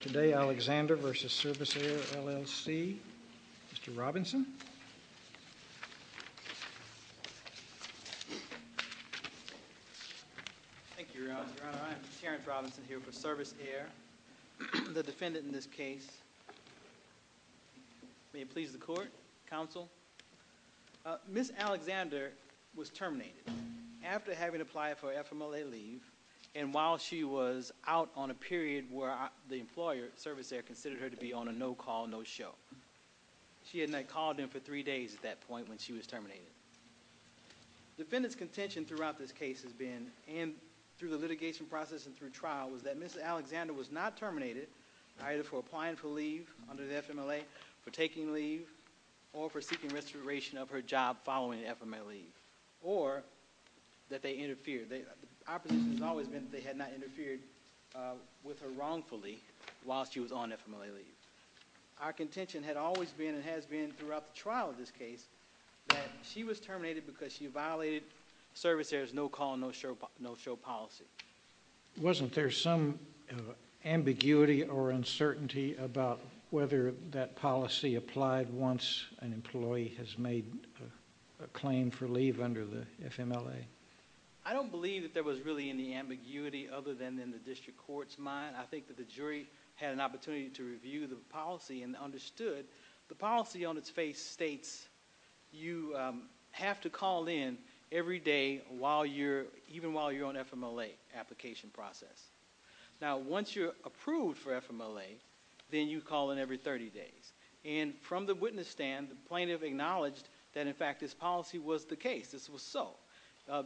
Today, Alexander v. Servisair, L.L.C. Mr. Robinson. Thank you, Your Honor. I am Terrence Robinson here for Servisair, the defendant in this case. May it please the Court, Counsel. Ms. Alexander was terminated after having applied for FMLA leave, and while she was out on a period where the employer, Servisair, considered her to be on a no-call, no-show. She had not called him for three days at that point when she was terminated. Defendant's contention throughout this case has been, and through the litigation process and through trial, was that Ms. Alexander was not terminated either for applying for leave under the FMLA, for taking leave, or for seeking restoration of her job following FMLA leave, or that they interfered. Our position has always been that they had not interfered with her wrongfully while she was on FMLA leave. Our contention had always been, and has been throughout the trial of this case, that she was terminated because she violated Servisair's no-call, no-show policy. Wasn't there some ambiguity or uncertainty about whether that policy applied once an employee has made a claim for leave under the FMLA? I don't believe that there was really any ambiguity other than in the district court's mind. I think that the jury had an opportunity to review the policy and understood. The policy on its face states you have to call in every day even while you're on FMLA application process. Once you're approved for FMLA, then you call in every 30 days. From the witness stand, the plaintiff acknowledged that, in fact, this policy was the case. This was so.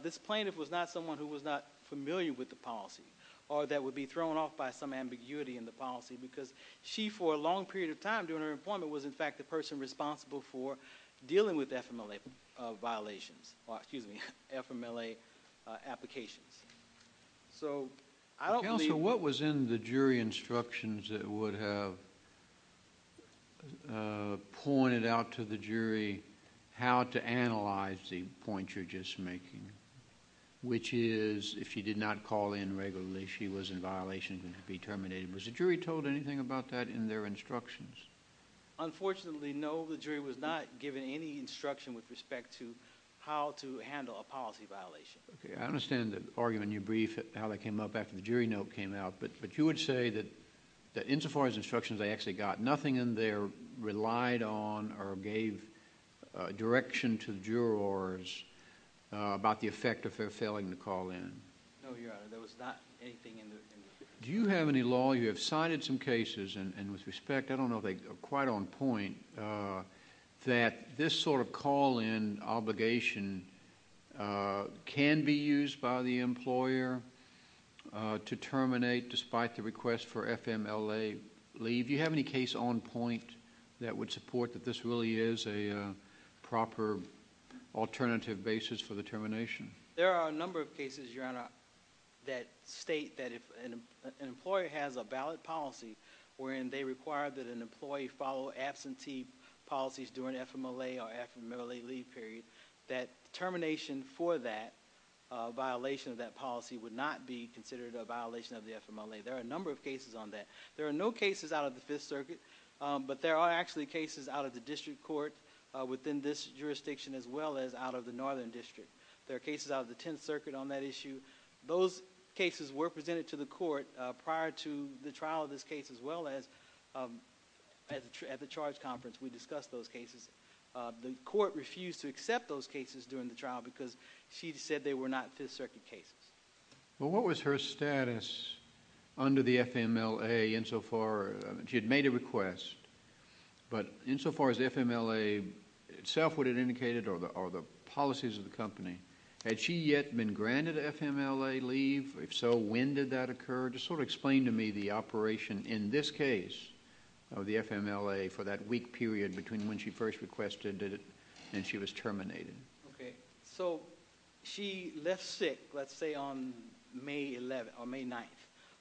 This plaintiff was not someone who was not familiar with the policy or that would be thrown off by some ambiguity in the policy because she, for a long period of time during her employment, was, in fact, the person responsible for dealing with FMLA violations, or excuse me, FMLA applications. Counsel, what was in the jury instructions that would have pointed out to the jury how to analyze the point you're just making, which is if she did not call in regularly, she was in violation and could be terminated. Was the jury told anything about that in their instructions? Unfortunately, no. The jury was not given any instruction with respect to how to handle a policy violation. I understand the argument you briefed, how that came up after the jury note came out, but you would say that insofar as instructions they actually got, nothing in there relied on or gave direction to jurors about the effect of her failing to call in. No, Your Honor. There was not anything in there. Do you have any law, you have cited some cases, and with respect, I don't know if they are quite on point, that this sort of call-in obligation can be used by the employer to terminate despite the request for FMLA leave? Do you have any case on point that would support that this really is a proper alternative basis for the termination? There are a number of cases, Your Honor, that state that if an employer has a ballot policy wherein they require that an employee follow absentee policies during FMLA or FMLA leave period, that termination for that violation of that policy would not be considered a violation of the FMLA. There are a number of cases on that. There are no cases out of the Fifth Circuit, but there are actually cases out of the district court within this jurisdiction as well as out of the Northern District. There are cases out of the Tenth Circuit on that issue. Those cases were presented to the court prior to the trial of this case as well as at the charge conference. We discussed those cases. The court refused to accept those cases during the trial because she said they were not Fifth Circuit cases. Well, what was her status under the FMLA insofar? She had made a request, but insofar as FMLA itself would have indicated or the policies of the company, had she yet been granted FMLA leave? If so, when did that occur? Just sort of explain to me the operation in this case of the FMLA for that week period between when she first requested it and she was terminated. Okay, so she left sick, let's say, on May 11th or May 9th.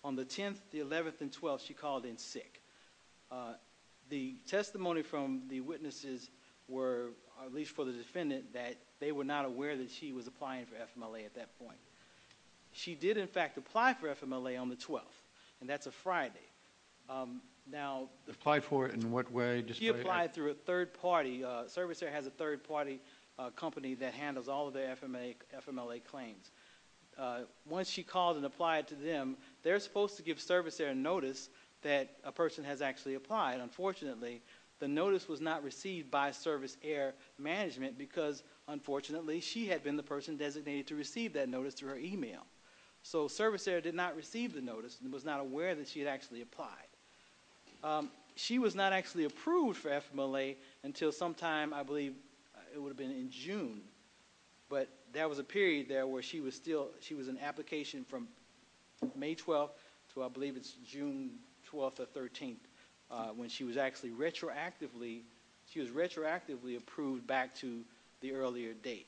On the 10th, the 11th, and 12th, she called in sick. The testimony from the witnesses were, at least for the defendant, that they were not aware that she was applying for FMLA at that point. She did, in fact, apply for FMLA on the 12th, and that's a Friday. Applied for it in what way? She applied through a third party. Service Air has a third party company that handles all of their FMLA claims. Once she called and applied to them, they're supposed to give Service Air a notice that a person has actually applied. Unfortunately, the notice was not received by Service Air management because, unfortunately, she had been the person designated to receive that notice through her email. So Service Air did not receive the notice and was not aware that she had actually applied. She was not actually approved for FMLA until sometime, I believe, it would have been in June. But there was a period there where she was still, she was in application from May 12th to, I believe, it's June 12th or 13th when she was actually retroactively, she was retroactively approved back to the earlier date.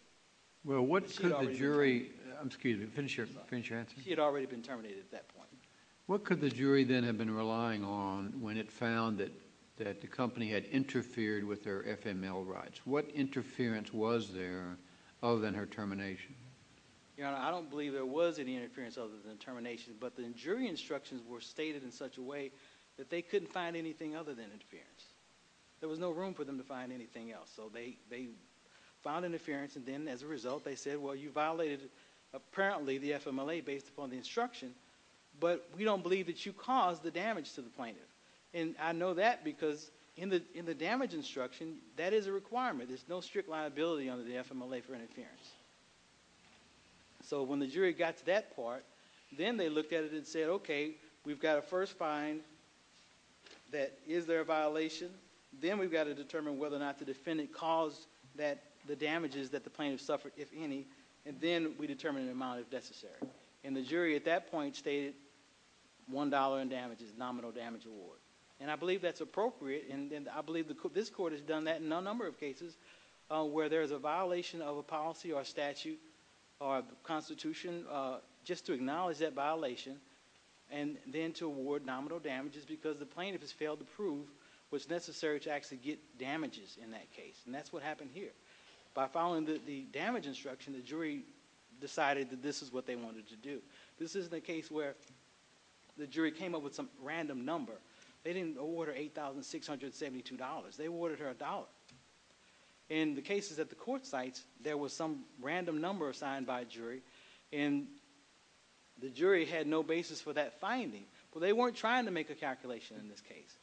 Well, what could the jury, excuse me, finish your answer. She had already been terminated at that point. What could the jury then have been relying on when it found that the company had interfered with their FML rights? What interference was there other than her termination? Your Honor, I don't believe there was any interference other than termination, but the jury instructions were stated in such a way that they couldn't find anything other than interference. There was no room for them to find anything else. So they found interference, and then as a result, they said, well, you violated, apparently, the FMLA based upon the instruction, but we don't believe that you caused the damage to the plaintiff. And I know that because in the damage instruction, that is a requirement. There's no strict liability under the FMLA for interference. So when the jury got to that part, then they looked at it and said, okay, we've got a first fine that is there a violation, then we've got to determine whether or not the defendant caused the damages that the plaintiff suffered, if any, and then we determine an amount if necessary. And the jury at that point stated $1 in damages, nominal damage award. And I believe that's appropriate, and I believe this court has done that in a number of cases where there is a violation of a policy or statute or a constitution, just to acknowledge that violation and then to award nominal damages because the plaintiff has failed to prove what's necessary to actually get damages in that case. And that's what happened here. By following the damage instruction, the jury decided that this is what they wanted to do. This is the case where the jury came up with some random number. They didn't order $8,672. They ordered her $1. In the cases at the court sites, there was some random number assigned by a jury, and the jury had no basis for that finding. Well, they weren't trying to make a calculation in this case.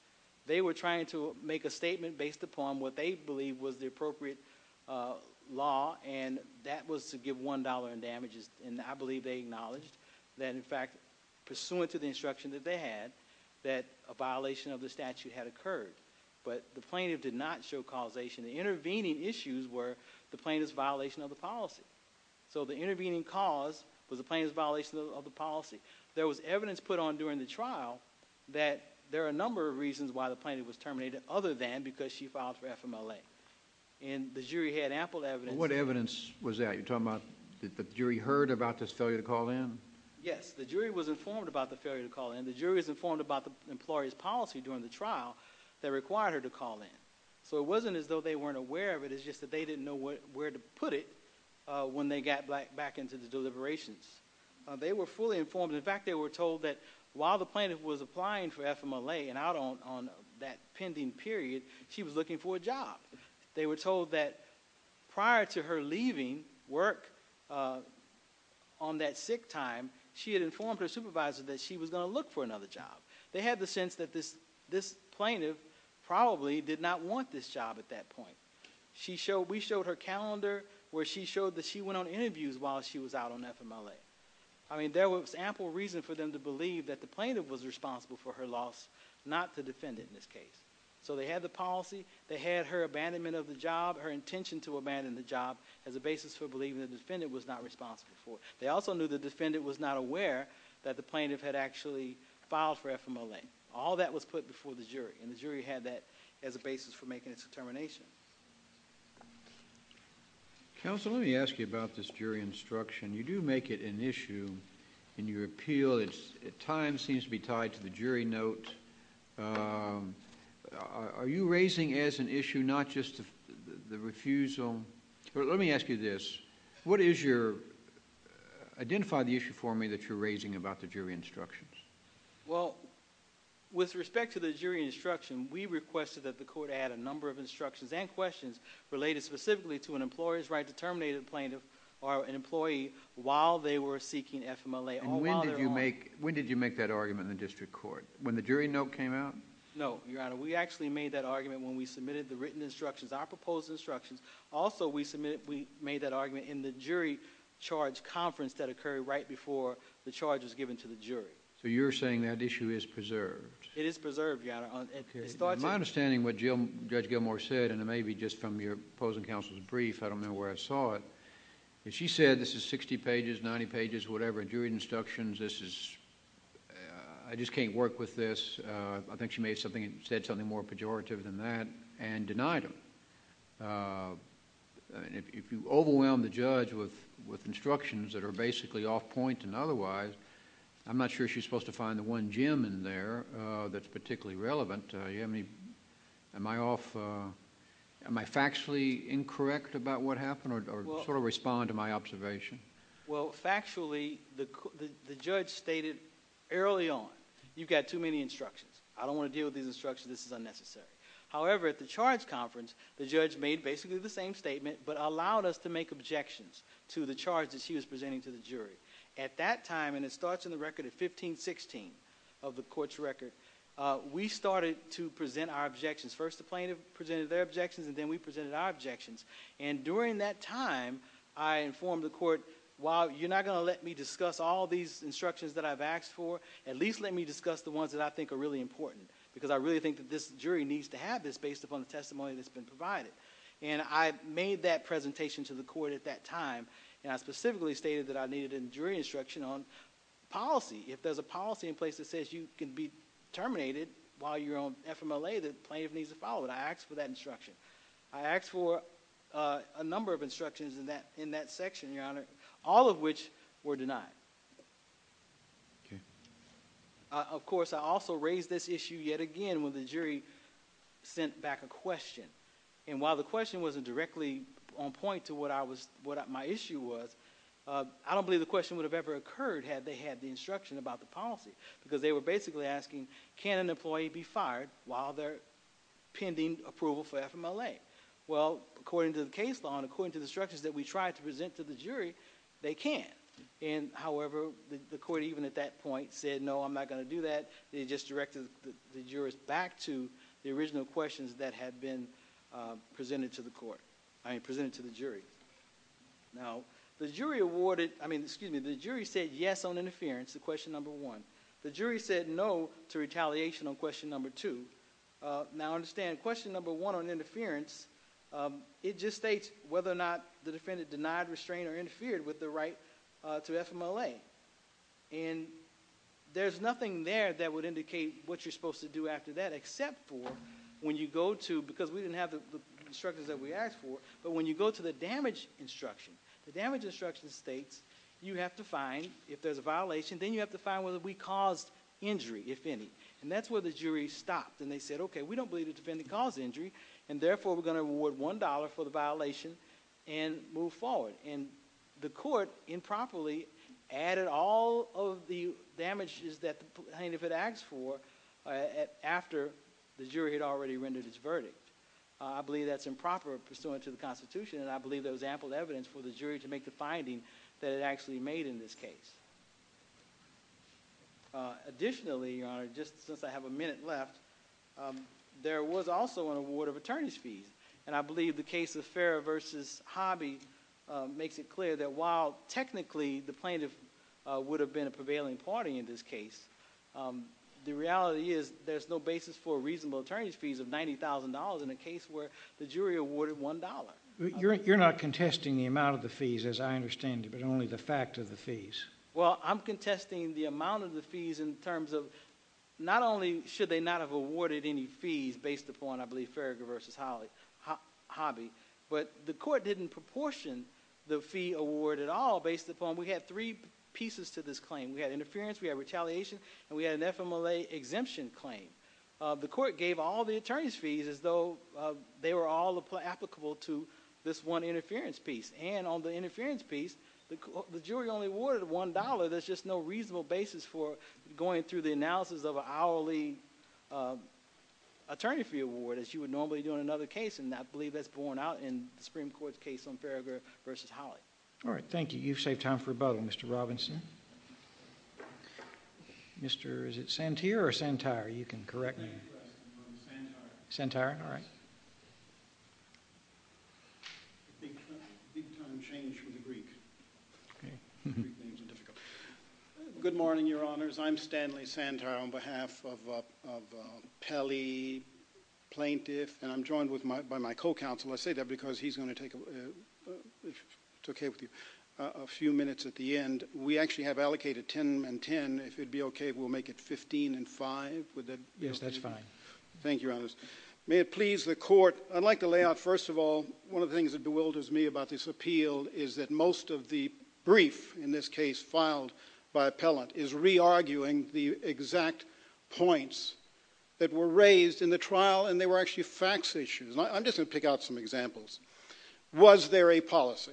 They were trying to make a statement based upon what they believed was the appropriate law, and that was to give $1 in damages. And I believe they acknowledged that, in fact, pursuant to the instruction that they had, that a violation of the statute had occurred. But the plaintiff did not show causation. The intervening issues were the plaintiff's violation of the policy. So the intervening cause was the plaintiff's violation of the policy. There was evidence put on during the trial that there are a number of reasons why the plaintiff was terminated other than because she filed for FMLA. And the jury had ample evidence. What evidence was that? You're talking about the jury heard about this failure to call in? Yes. The jury was informed about the failure to call in. The jury was informed about the employee's policy during the trial that required her to call in. So it wasn't as though they weren't aware of it. It's just that they didn't know where to put it when they got back into the deliberations. They were fully informed. In fact, they were told that while the plaintiff was applying for FMLA and out on that pending period, she was looking for a job. They were told that prior to her leaving work on that sick time, she had informed her supervisor that she was going to look for another job. They had the sense that this plaintiff probably did not want this job at that point. We showed her calendar where she showed that she went on interviews while she was out on FMLA. I mean, there was ample reason for them to believe that the plaintiff was responsible for her loss, not the defendant in this case. So they had the policy. They had her abandonment of the job, her intention to abandon the job as a basis for believing the defendant was not responsible for it. They also knew the defendant was not aware that the plaintiff had actually filed for FMLA. All that was put before the jury. And the jury had that as a basis for making its determination. Counsel, let me ask you about this jury instruction. You do make it an issue in your appeal. It at times seems to be tied to the jury note. Are you raising as an issue not just the refusal? But let me ask you this. What is your—identify the issue for me that you're raising about the jury instructions. Well, with respect to the jury instruction, we requested that the court add a number of instructions and questions related specifically to an employer's right to terminate an employee while they were seeking FMLA. And when did you make that argument in the district court? When the jury note came out? No, Your Honor. We actually made that argument when we submitted the written instructions, our proposed instructions. Also, we made that argument in the jury charge conference that occurred right before the charge was given to the jury. So you're saying that issue is preserved? It is preserved, Your Honor. My understanding of what Judge Gilmour said, and it may be just from your opposing counsel's brief, I don't know where I saw it. She said this is sixty pages, ninety pages, whatever, jury instructions. This is... I just can't work with this. I think she said something more pejorative than that and denied them. If you overwhelm the judge with instructions that are basically off point and otherwise, I'm not sure she's supposed to find the one gem in there that's particularly relevant. Am I factually incorrect about what happened or sort of respond to my observation? Well, factually, the judge stated early on, you've got too many instructions. I don't want to deal with these instructions. This is unnecessary. However, at the charge conference, the judge made basically the same statement but allowed us to make objections to the charge that she was presenting to the jury. At that time, and it starts in the record of 1516 of the court's record, we started to present our objections. First, the plaintiff presented their objections and then we presented our objections. During that time, I informed the court, while you're not going to let me discuss all these instructions that I've asked for, at least let me discuss the ones that I think are really important because I really think that this jury needs to have this based upon the testimony that's been provided. I made that presentation to the court at that time and I specifically stated that I needed a jury instruction on policy. If there's a policy in place that says you can be terminated while you're on FMLA, the plaintiff needs to follow it. I asked for that instruction. I asked for a number of instructions in that section, Your Honor, all of which were denied. Of course, I also raised this issue yet again when the jury sent back a question. While the question wasn't directly on point to what my issue was, I don't believe the question would have ever occurred had they had the instruction about the policy because they were basically asking, can an employee be fired while they're pending approval for FMLA? Well, according to the case law and according to the instructions that we tried to present to the jury, they can. However, the court even at that point said, no, I'm not going to do that. They just directed the jurors back to the original questions that had been presented to the jury. Now, the jury said yes on interference, question number one. The jury said no to retaliation on question number two. Now, understand question number one on interference, it just states whether or not the defendant denied, restrained, or interfered with the right to FMLA. And there's nothing there that would indicate what you're supposed to do after that except for when you go to, because we didn't have the instructions that we asked for, but when you go to the damage instruction, the damage instruction states you have to find, if there's a violation, then you have to find whether we caused injury, if any. And that's where the jury stopped and they said, okay, we don't believe the defendant caused injury and therefore we're going to award $1 for the violation and move forward. And the court improperly added all of the damages that the plaintiff had asked for after the jury had already rendered its verdict. I believe that's improper pursuant to the Constitution and I believe there was ample evidence for the jury to make the finding that it actually made in this case. Additionally, Your Honor, just since I have a minute left, there was also an award of attorney's fees. And I believe the case of Farragher v. Hobby makes it clear that while technically the plaintiff would have been a prevailing party in this case, the reality is there's no basis for reasonable attorney's fees of $90,000 in a case where the jury awarded $1. You're not contesting the amount of the fees, as I understand it, but only the fact of the fees. Well, I'm contesting the amount of the fees in terms of not only should they not have awarded any fees based upon, I believe, Farragher v. Hobby, but the court didn't proportion the fee award at all based upon we had three pieces to this claim. We had interference, we had retaliation, and we had an FMLA exemption claim. The court gave all the attorney's fees as though they were all applicable to this one interference piece. And on the interference piece, the jury only awarded $1. There's just no reasonable basis for going through the analysis of an hourly attorney fee award as you would normally do in another case, and I believe that's borne out in the Supreme Court's case on Farragher v. Hobby. All right, thank you. You've saved time for a bubble, Mr. Robinson. Is it Santier or Santire? You can correct me. Santier. Santier, all right. Big time change from the Greek. The Greek names are difficult. Good morning, Your Honors. I'm Stanley Santier on behalf of Pelley, plaintiff, and I'm joined by my co-counsel. I say that because he's going to take a few minutes at the end. We actually have allocated 10 and 10. If it would be okay, we'll make it 15 and 5. Yes, that's fine. Thank you, Your Honors. May it please the court, I'd like to lay out, first of all, one of the things that bewilders me about this appeal is that most of the brief, in this case filed by appellant, is re-arguing the exact points that were raised in the trial and they were actually facts issues. I'm just going to pick out some examples. Was there a policy?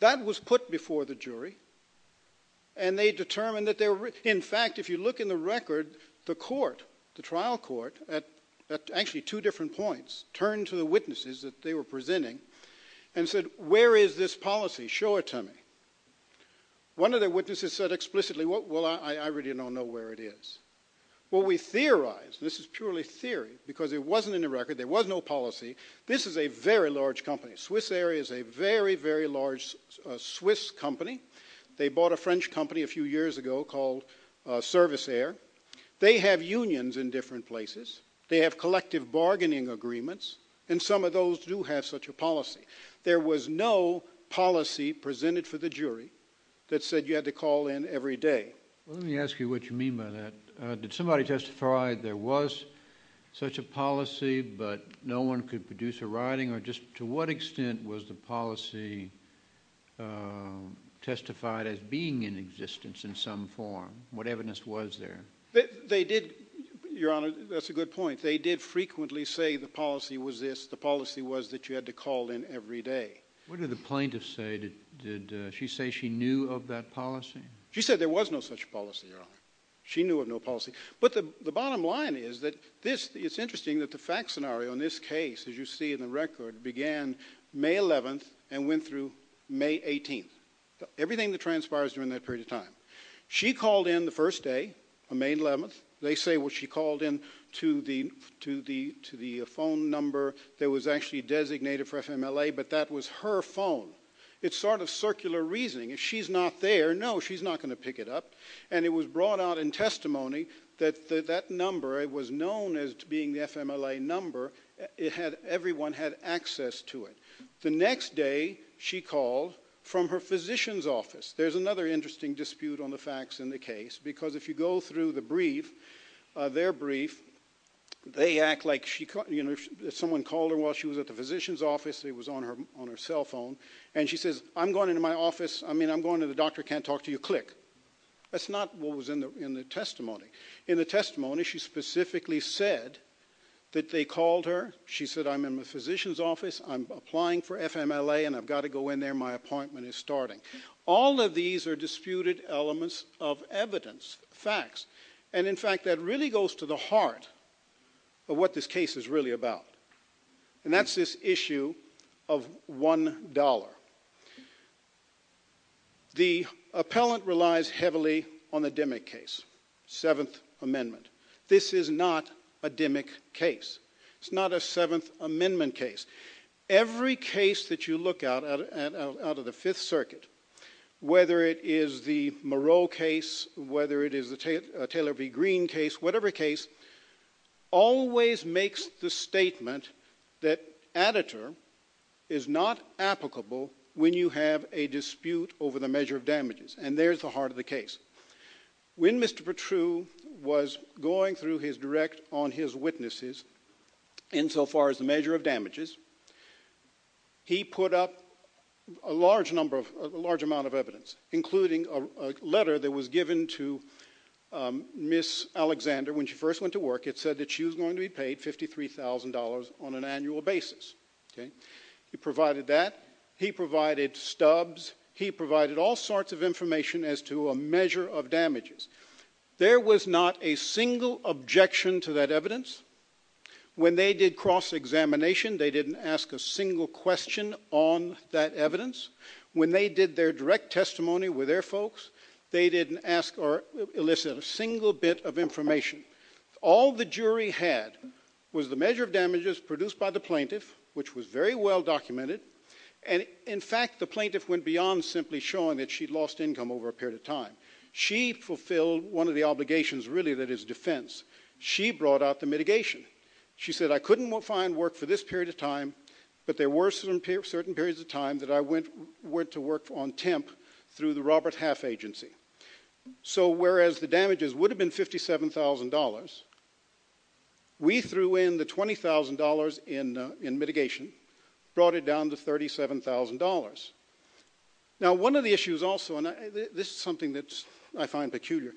That was put before the jury, and they determined that there were... In fact, if you look in the record, the court, the trial court, at actually two different points, turned to the witnesses that they were presenting and said, where is this policy? Show it to me. One of the witnesses said explicitly, well, I really don't know where it is. Well, we theorized, and this is purely theory, because it wasn't in the record, there was no policy, this is a very large company. Swiss Air is a very, very large Swiss company. They bought a French company a few years ago called Service Air. They have unions in different places. They have collective bargaining agreements, and some of those do have such a policy. There was no policy presented for the jury that said you had to call in every day. Let me ask you what you mean by that. Did somebody testify there was such a policy, but no one could produce a writing, or just to what extent was the policy testified as being in existence in some form? What evidence was there? They did, Your Honor, that's a good point. They did frequently say the policy was this, What did the plaintiff say? Did she say she knew of that policy? She said there was no such policy, Your Honor. She knew of no policy. But the bottom line is that it's interesting that the fact scenario in this case, as you see in the record, began May 11th and went through May 18th, everything that transpires during that period of time. She called in the first day on May 11th. They say she called in to the phone number that was actually designated for FMLA, but that was her phone. It's sort of circular reasoning. If she's not there, no, she's not going to pick it up. And it was brought out in testimony that that number was known as being the FMLA number. Everyone had access to it. The next day, she called from her physician's office. There's another interesting dispute on the facts in the case, because if you go through the brief, their brief, they act like someone called her while she was at the physician's office. It was on her cell phone. And she says, I'm going into my office. I mean, I'm going to the doctor. Can't talk to you. Click. That's not what was in the testimony. In the testimony, she specifically said that they called her. She said, I'm in the physician's office. I'm applying for FMLA, and I've got to go in there. My appointment is starting. All of these are disputed elements of evidence, facts. And in fact, that really goes to the heart of what this case is really about. And that's this issue of $1. The appellant relies heavily on the Dimmick case, Seventh Amendment. This is not a Dimmick case. It's not a Seventh Amendment case. Every case that you look at out of the Fifth Circuit, whether it is the Moreau case, whether it is the Taylor v. Green case, whatever case, always makes the statement that additive is not applicable when you have a dispute over the measure of damages. And there's the heart of the case. When Mr. Patru was going through his direct on his witnesses, insofar as the measure of damages, he put up a large amount of evidence, including a letter that was given to Ms. Alexander when she first went to work. It said that she was going to be paid $53,000 on an annual basis. He provided that. He provided stubs. He provided all sorts of information as to a measure of damages. There was not a single objection to that evidence. When they did cross-examination, they didn't ask a single question on that evidence. When they did their direct testimony with their folks, they didn't ask or elicit a single bit of information. All the jury had was the measure of damages produced by the plaintiff, which was very well documented. And in fact, the plaintiff went beyond simply showing that she'd lost income over a period of time. She fulfilled one of the obligations, really, that is defense. She brought out the mitigation. She said, I couldn't find work for this period of time, but there were certain periods of time that I went to work on temp through the Robert Half Agency. So whereas the damages would have been $57,000, we threw in the $20,000 in mitigation, brought it down to $37,000. Now, one of the issues also, and this is something that I find peculiar,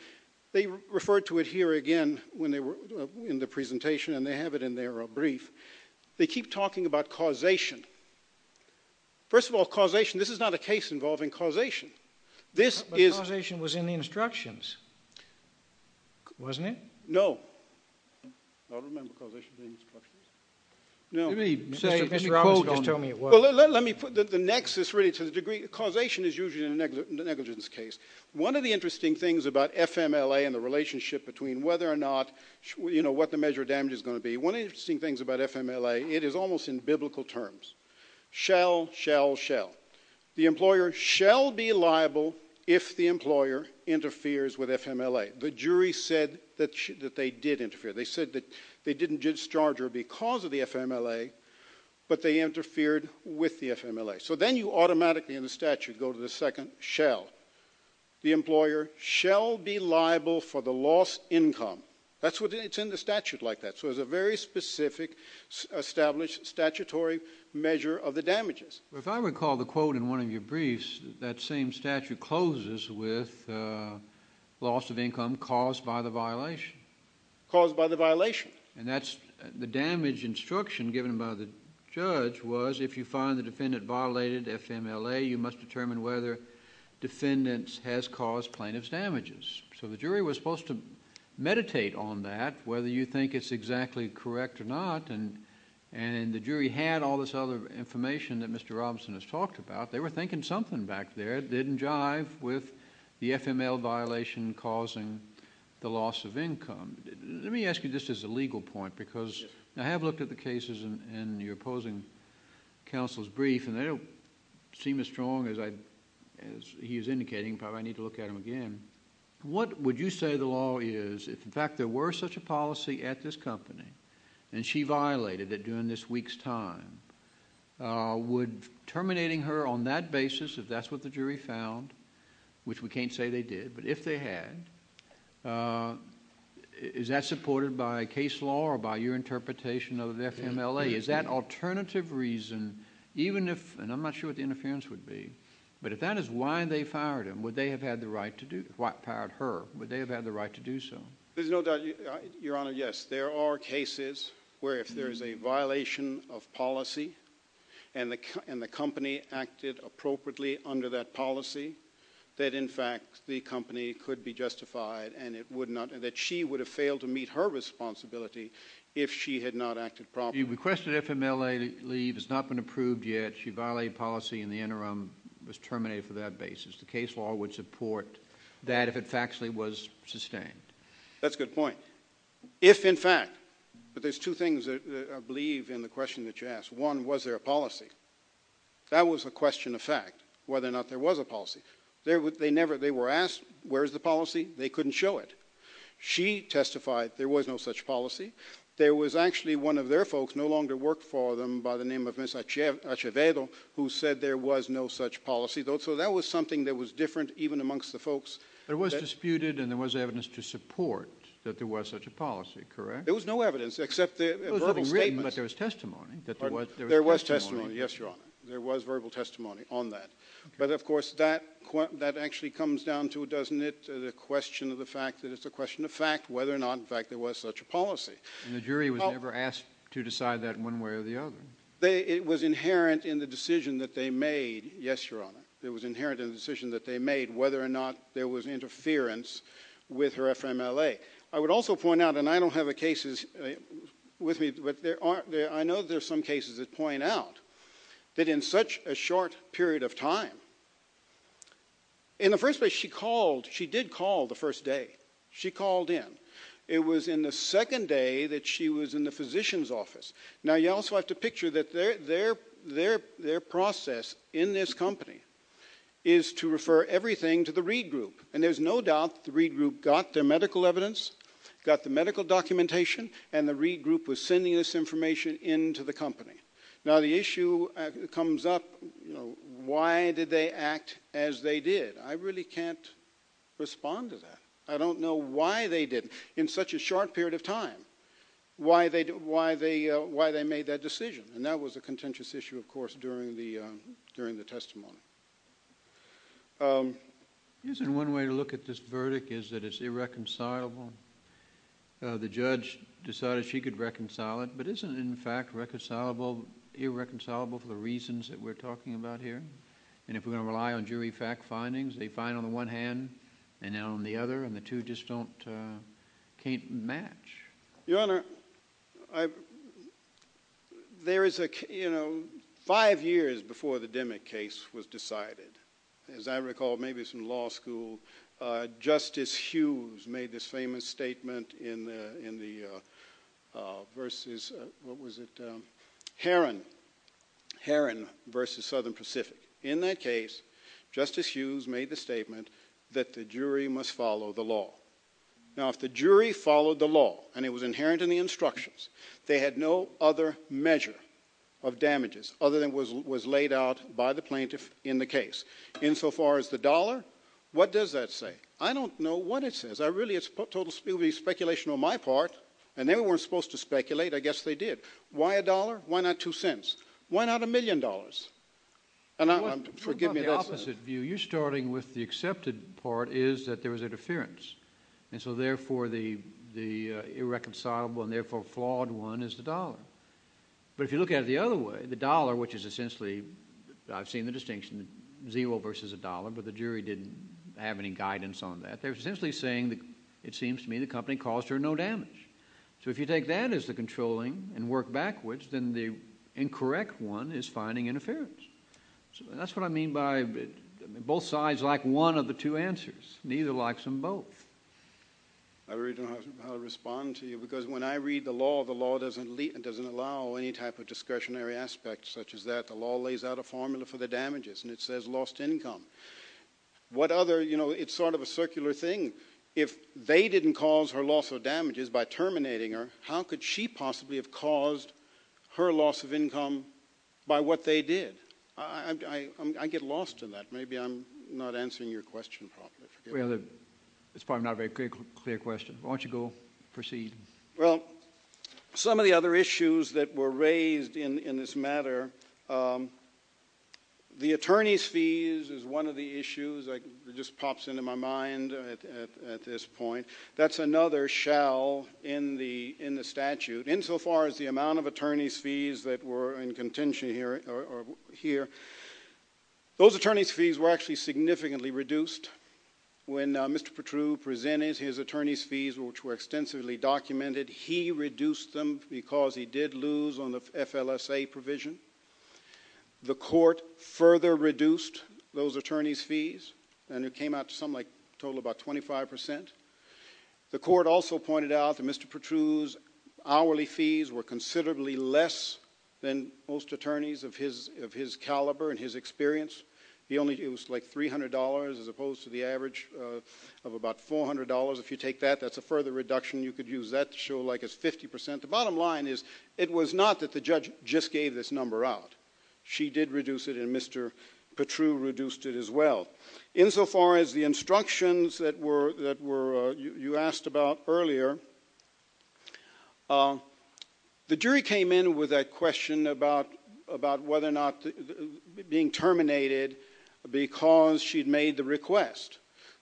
they referred to it here again in the presentation, and they have it in their brief, they keep talking about causation. First of all, causation, this is not a case involving causation. But causation was in the instructions, wasn't it? No. I don't remember causation being in the instructions. Mr. Robertson just told me it was. Well, let me put the nexus, really, to the degree... Causation is usually a negligence case. One of the interesting things about FMLA and the relationship between whether or not, you know, what the measure of damage is going to be, one of the interesting things about FMLA, it is almost in biblical terms. Shall, shall, shall. The employer shall be liable if the employer interferes with FMLA. The jury said that they did interfere. They said that they didn't discharge her because of the FMLA, but they interfered with the FMLA. So then you automatically in the statute go to the second shall. The employer shall be liable for the lost income. That's what it's in the statute like that. So it's a very specific, established statutory measure of the damages. If I recall the quote in one of your briefs, that same statute closes with loss of income caused by the violation. Caused by the violation. And that's the damage instruction given by the judge was if you find the defendant violated FMLA, you must determine whether the defendant has caused plaintiff's damages. So the jury was supposed to meditate on that, whether you think it's exactly correct or not. And the jury had all this other information that Mr. Robinson has talked about. They were thinking something back there. They didn't jive with the FMLA violation causing the loss of income. Let me ask you this as a legal point, because I have looked at the cases in your opposing counsel's brief, and they don't seem as strong as he was indicating. Probably I need to look at them again. What would you say the law is, if in fact there were such a policy at this company, and she violated it during this week's time, would terminating her on that basis, if that's what the jury found, which we can't say they did, but if they had, is that supported by case law or by your interpretation of FMLA? Is that alternative reason, even if, and I'm not sure what the interference would be, but if that is why they fired her, would they have had the right to do so? There's no doubt, Your Honor, yes. There are cases where if there's a violation of policy and the company acted appropriately under that policy, that in fact the company could be justified and that she would have failed to meet her responsibility if she had not acted properly. You requested FMLA leave. It's not been approved yet. If she violated policy in the interim, was terminated for that basis, the case law would support that if it factually was sustained. That's a good point. If in fact, but there's two things I believe in the question that you asked. One, was there a policy? That was a question of fact, whether or not there was a policy. They were asked, where is the policy? They couldn't show it. She testified there was no such policy. There was actually one of their folks, no longer worked for them by the name of Ms. Achevedo, who said there was no such policy. So that was something that was different even amongst the folks. There was disputed and there was evidence to support that there was such a policy, correct? There was no evidence except the verbal statement. It was written, but there was testimony. There was testimony, yes, Your Honor. There was verbal testimony on that. But of course, that actually comes down to, doesn't it, the question of the fact that it's a question of fact, whether or not in fact there was such a policy. And the jury was never asked to decide that one way or the other. It was inherent in the decision that they made, yes, Your Honor. It was inherent in the decision that they made whether or not there was interference with her FMLA. I would also point out, and I don't have the cases with me, but I know there are some cases that point out that in such a short period of time... In the first place, she did call the first day. She called in. It was in the second day that she was in the physician's office. Now, you also have to picture that their process in this company is to refer everything to the Reed Group, and there's no doubt the Reed Group got their medical evidence, got the medical documentation, and the Reed Group was sending this information into the company. Now, the issue comes up, you know, why did they act as they did? I really can't respond to that. I don't know why they did, in such a short period of time, why they made that decision. And that was a contentious issue, of course, during the testimony. Isn't one way to look at this verdict is that it's irreconcilable? The judge decided she could reconcile it, but isn't it in fact irreconcilable for the reasons that we're talking about here? And if we're going to rely on jury fact findings, they find on the one hand, and on the other, and the two just can't match. Your Honor, there is a... You know, five years before the Demick case was decided, as I recall, maybe it's from law school, Justice Hughes made this famous statement in the versus... What was it? Heron versus Southern Pacific. In that case, Justice Hughes made the statement that the jury must follow the law. Now, if the jury followed the law, and it was inherent in the instructions, they had no other measure of damages other than what was laid out by the plaintiff in the case. Insofar as the dollar, what does that say? I don't know what it says. It would be speculation on my part, and they weren't supposed to speculate. I guess they did. Why a dollar? Why not two cents? Why not a million dollars? Forgive me, that's... You're starting with the accepted part is that there was interference, and so therefore the irreconcilable and therefore flawed one is the dollar. But if you look at it the other way, the dollar, which is essentially... I've seen the distinction, zero versus a dollar, but the jury didn't have any guidance on that. They were essentially saying, it seems to me, the company caused her no damage. So if you take that as the controlling and work backwards, then the incorrect one is finding interference. That's what I mean by... Both sides like one of the two answers. Neither likes them both. I don't know how to respond to you, because when I read the law, the law doesn't allow any type of discretionary aspect such as that. The law lays out a formula for the damages, and it says lost income. What other... You know, it's sort of a circular thing. If they didn't cause her loss of damages by terminating her, how could she possibly have caused her loss of income by what they did? I get lost in that. Maybe I'm not answering your question properly. Well, it's probably not a very clear question. Why don't you go proceed? Well, some of the other issues that were raised in this matter... The attorneys' fees is one of the issues that just pops into my mind at this point. That's another shell in the statute, insofar as the amount of attorneys' fees that were in contention here. Those attorneys' fees were actually significantly reduced. When Mr. Petrou presented his attorneys' fees, which were extensively documented, he reduced them because he did lose on the FLSA provision. The court further reduced those attorneys' fees, and it came out to something like a total of about 25%. The court also pointed out that Mr. Petrou's hourly fees were considerably less than most attorneys of his caliber and his experience. It was like $300 as opposed to the average of about $400. If you take that, that's a further reduction. You could use that to show like it's 50%. The bottom line is it was not that the judge just gave this number out. She did reduce it, and Mr. Petrou reduced it as well. Insofar as the instructions that you asked about earlier, the jury came in with a question about whether or not being terminated because she'd made the request.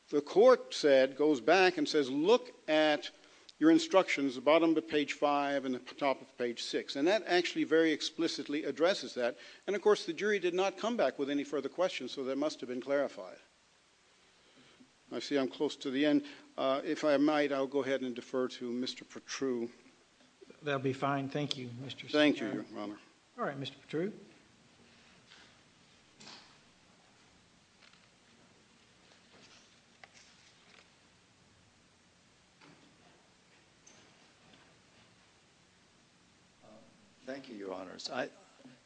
The court goes back and says, look at your instructions at the bottom of page 5 and the top of page 6, and that actually very explicitly addresses that. Of course, the jury did not come back with any further questions, so that must have been clarified. I see I'm close to the end. If I might, I'll go ahead and defer to Mr. Petrou. That will be fine. Thank you, Mr. Secretary. Thank you, Your Honor. All right, Mr. Petrou. Thank you, Your Honors.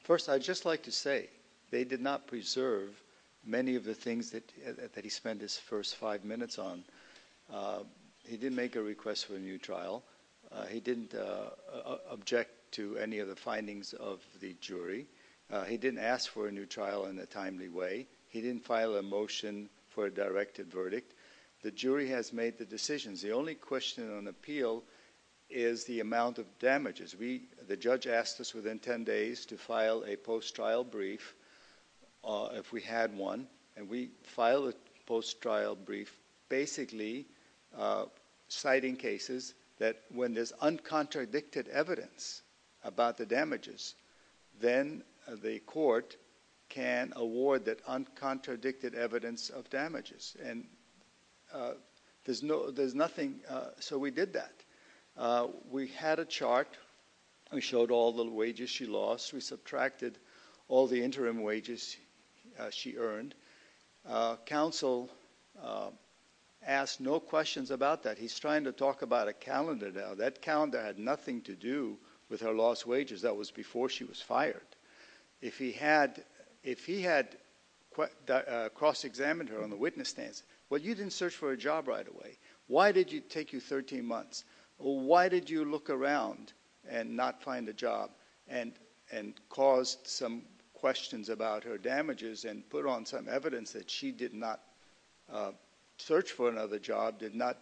First, I'd just like to say they did not preserve many of the things that he spent his first five minutes on. He didn't make a request for a new trial. He didn't object to any of the findings of the jury. He didn't ask for a new trial in a timely way. He didn't file a motion for a directed verdict. The jury has made the decisions. The only question on appeal is the amount of damages. The judge asked us within 10 days to file a post-trial brief, if we had one, and we filed a post-trial brief basically citing cases that when there's uncontradicted evidence about the damages, then the court can award that uncontradicted evidence of damages. So we did that. We had a chart. We showed all the wages she lost. We subtracted all the interim wages she earned. Counsel asked no questions about that. He's trying to talk about a calendar now. That calendar had nothing to do with her lost wages. That was before she was fired. If he had cross-examined her on the witness stands, well, you didn't search for a job right away. Why did it take you 13 months? Why did you look around and not find a job and cause some questions about her damages and put on some evidence that she did not search for another job, did not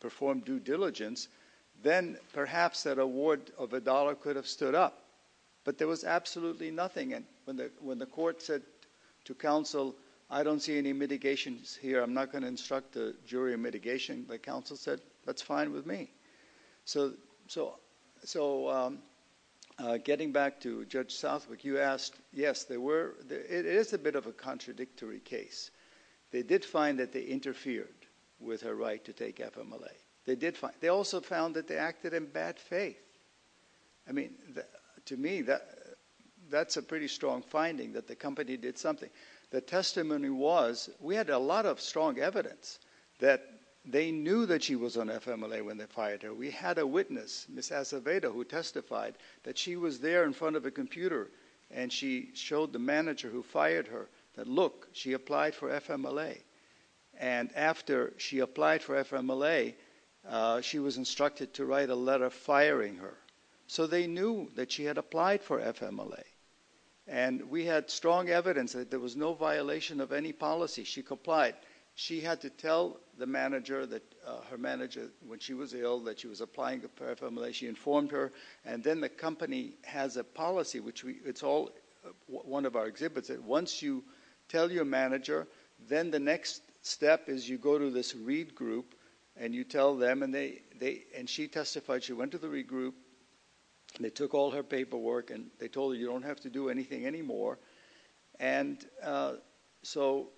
perform due diligence, then perhaps that award of a dollar could have stood up. But there was absolutely nothing. And when the court said to counsel, I don't see any mitigations here, I'm not going to instruct a jury on mitigation, the counsel said, that's fine with me. So getting back to Judge Southwick, you asked, yes, it is a bit of a contradictory case. They did find that they interfered with her right to take FMLA. They also found that they acted in bad faith. I mean, to me, that's a pretty strong finding, that the company did something. The testimony was we had a lot of strong evidence that they knew that she was on FMLA when they fired her. We had a witness, Ms. Acevedo, who testified that she was there in front of a computer and she showed the manager who fired her that, look, she applied for FMLA. And after she applied for FMLA, she was instructed to write a letter firing her. So they knew that she had applied for FMLA. And we had strong evidence that there was no violation of any policy. She complied. She had to tell the manager that her manager, when she was ill, that she was applying for FMLA. She informed her. And then the company has a policy, which it's all one of our exhibits, that once you tell your manager, then the next step is you go to this reed group and you tell them. And she testified. She went to the reed group and they took all her paperwork and they told her you don't have to do anything anymore. And so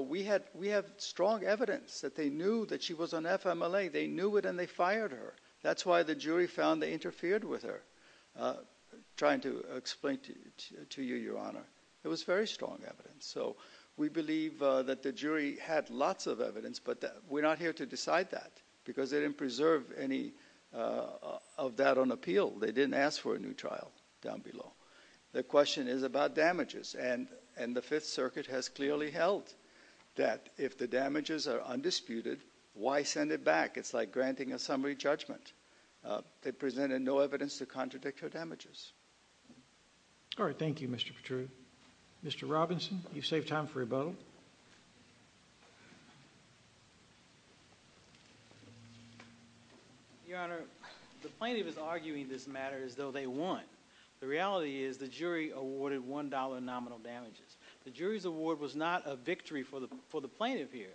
we have strong evidence that they knew that she was on FMLA. They knew it and they fired her. That's why the jury found they interfered with her. I'm trying to explain to you, Your Honor. It was very strong evidence. So we believe that the jury had lots of evidence, but we're not here to decide that because they didn't preserve any of that on appeal. They didn't ask for a new trial down below. The question is about damages, and the Fifth Circuit has clearly held that if the damages are undisputed, why send it back? It's like granting a summary judgment. They presented no evidence to contradict her damages. All right, thank you, Mr. Petrucci. Mr. Robinson, you've saved time for rebuttal. Your Honor, the plaintiff is arguing this matter as though they won. The reality is the jury awarded $1 nominal damages. The jury's award was not a victory for the plaintiff here.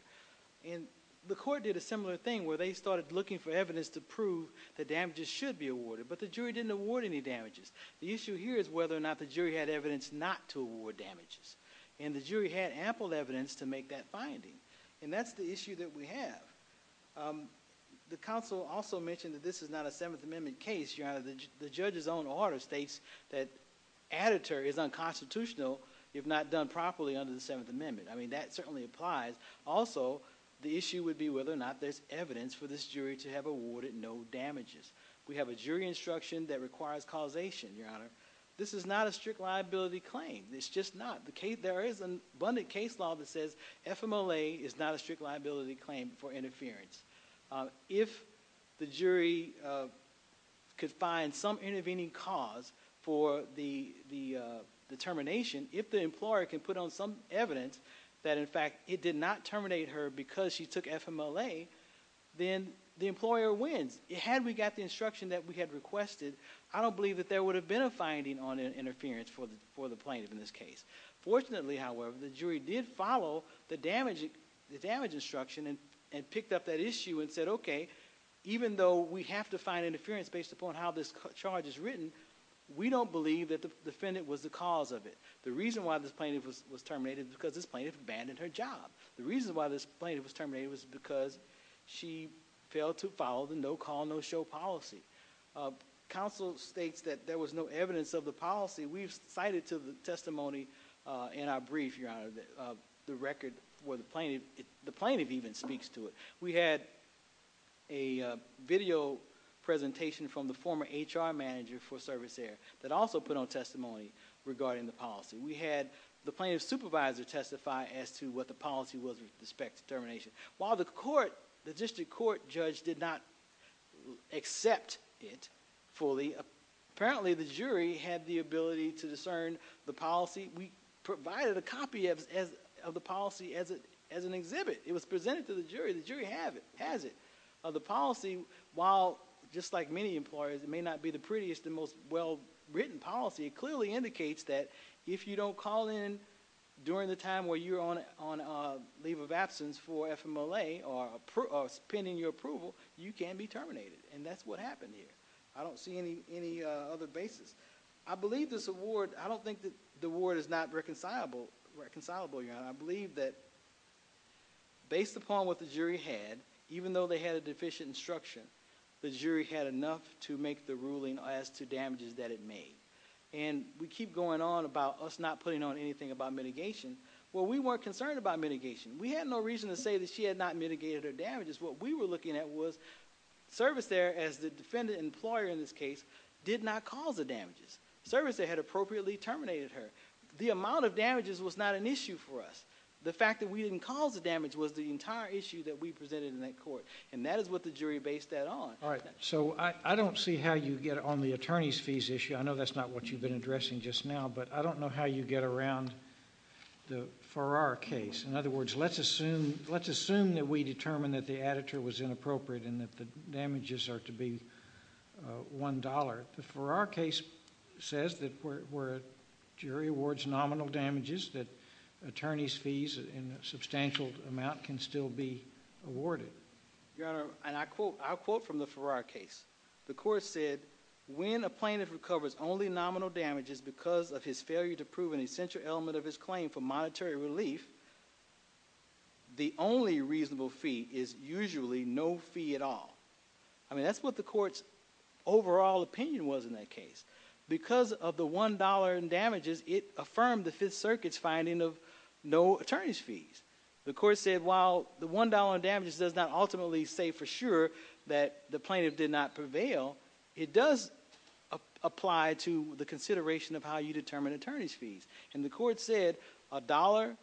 And the court did a similar thing where they started looking for evidence to prove the damages should be awarded, but the jury didn't award any damages. The issue here is whether or not the jury had evidence not to award damages. And the jury had ample evidence, to make that finding. And that's the issue that we have. The counsel also mentioned that this is not a Seventh Amendment case. Your Honor, the judge's own order states that additory is unconstitutional if not done properly under the Seventh Amendment. I mean, that certainly applies. Also, the issue would be whether or not there's evidence for this jury to have awarded no damages. We have a jury instruction that requires causation, Your Honor. This is not a strict liability claim. It's just not. There is an abundant case law that says FMLA is not a strict liability claim for interference. If the jury could find some intervening cause for the termination, if the employer can put on some evidence that, in fact, it did not terminate her because she took FMLA, then the employer wins. Had we got the instruction that we had requested, I don't believe that there would have been a finding on interference for the plaintiff in this case. Fortunately, however, the jury did follow the damage instruction and picked up that issue and said, okay, even though we have to find interference based upon how this charge is written, we don't believe that the defendant was the cause of it. The reason why this plaintiff was terminated is because this plaintiff abandoned her job. The reason why this plaintiff was terminated was because she failed to follow the no-call, no-show policy. Counsel states that there was no evidence of the policy. We've cited to the testimony in our brief, Your Honor, the record where the plaintiff even speaks to it. We had a video presentation from the former HR manager for Service Air that also put on testimony regarding the policy. We had the plaintiff's supervisor testify as to what the policy was with respect to termination. While the district court judge did not accept it fully, apparently the jury had the ability to discern the policy. We provided a copy of the policy as an exhibit. It was presented to the jury. The jury has it. The policy, while just like many employers, it may not be the prettiest and most well-written policy, it clearly indicates that if you don't call in during the time where you're on leave of absence for FMLA or pending your approval, you can be terminated. And that's what happened here. I don't see any other basis. I don't think the award is not reconcilable, Your Honor. I believe that based upon what the jury had, even though they had a deficient instruction, the jury had enough to make the ruling as to damages that it made. And we keep going on about us not putting on anything about mitigation. Well, we weren't concerned about mitigation. We had no reason to say that she had not mitigated her damages. What we were looking at was service there, as the defendant employer in this case, did not cause the damages. Service there had appropriately terminated her. The amount of damages was not an issue for us. The fact that we didn't cause the damage was the entire issue that we presented in that court. And that is what the jury based that on. All right, so I don't see how you get on the attorney's fees issue. I know that's not what you've been addressing just now, but I don't know how you get around for our case. In other words, let's assume that we determine that the editor was inappropriate and that the damages are to be $1. The Farrar case says that where a jury awards nominal damages that attorney's fees in a substantial amount can still be awarded. Your Honor, and I'll quote from the Farrar case. The court said, when a plaintiff recovers only nominal damages because of his failure to prove an essential element of his claim for monetary relief, the only reasonable fee is usually no fee at all. I mean, that's what the court's overall opinion was in that case. Because of the $1 in damages, it affirmed the Fifth Circuit's finding of no attorney's fees. The court said, while the $1 in damages does not ultimately say for sure that the plaintiff did not prevail, And the court said, $1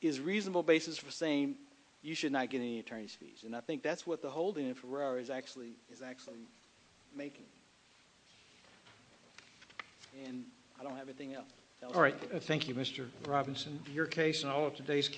is a reasonable basis for saying you should not get any attorney's fees. And I think that's what the holding in Farrar is actually making. And I don't have anything else. All right. Thank you, Mr. Robinson. Your case and all of today's cases,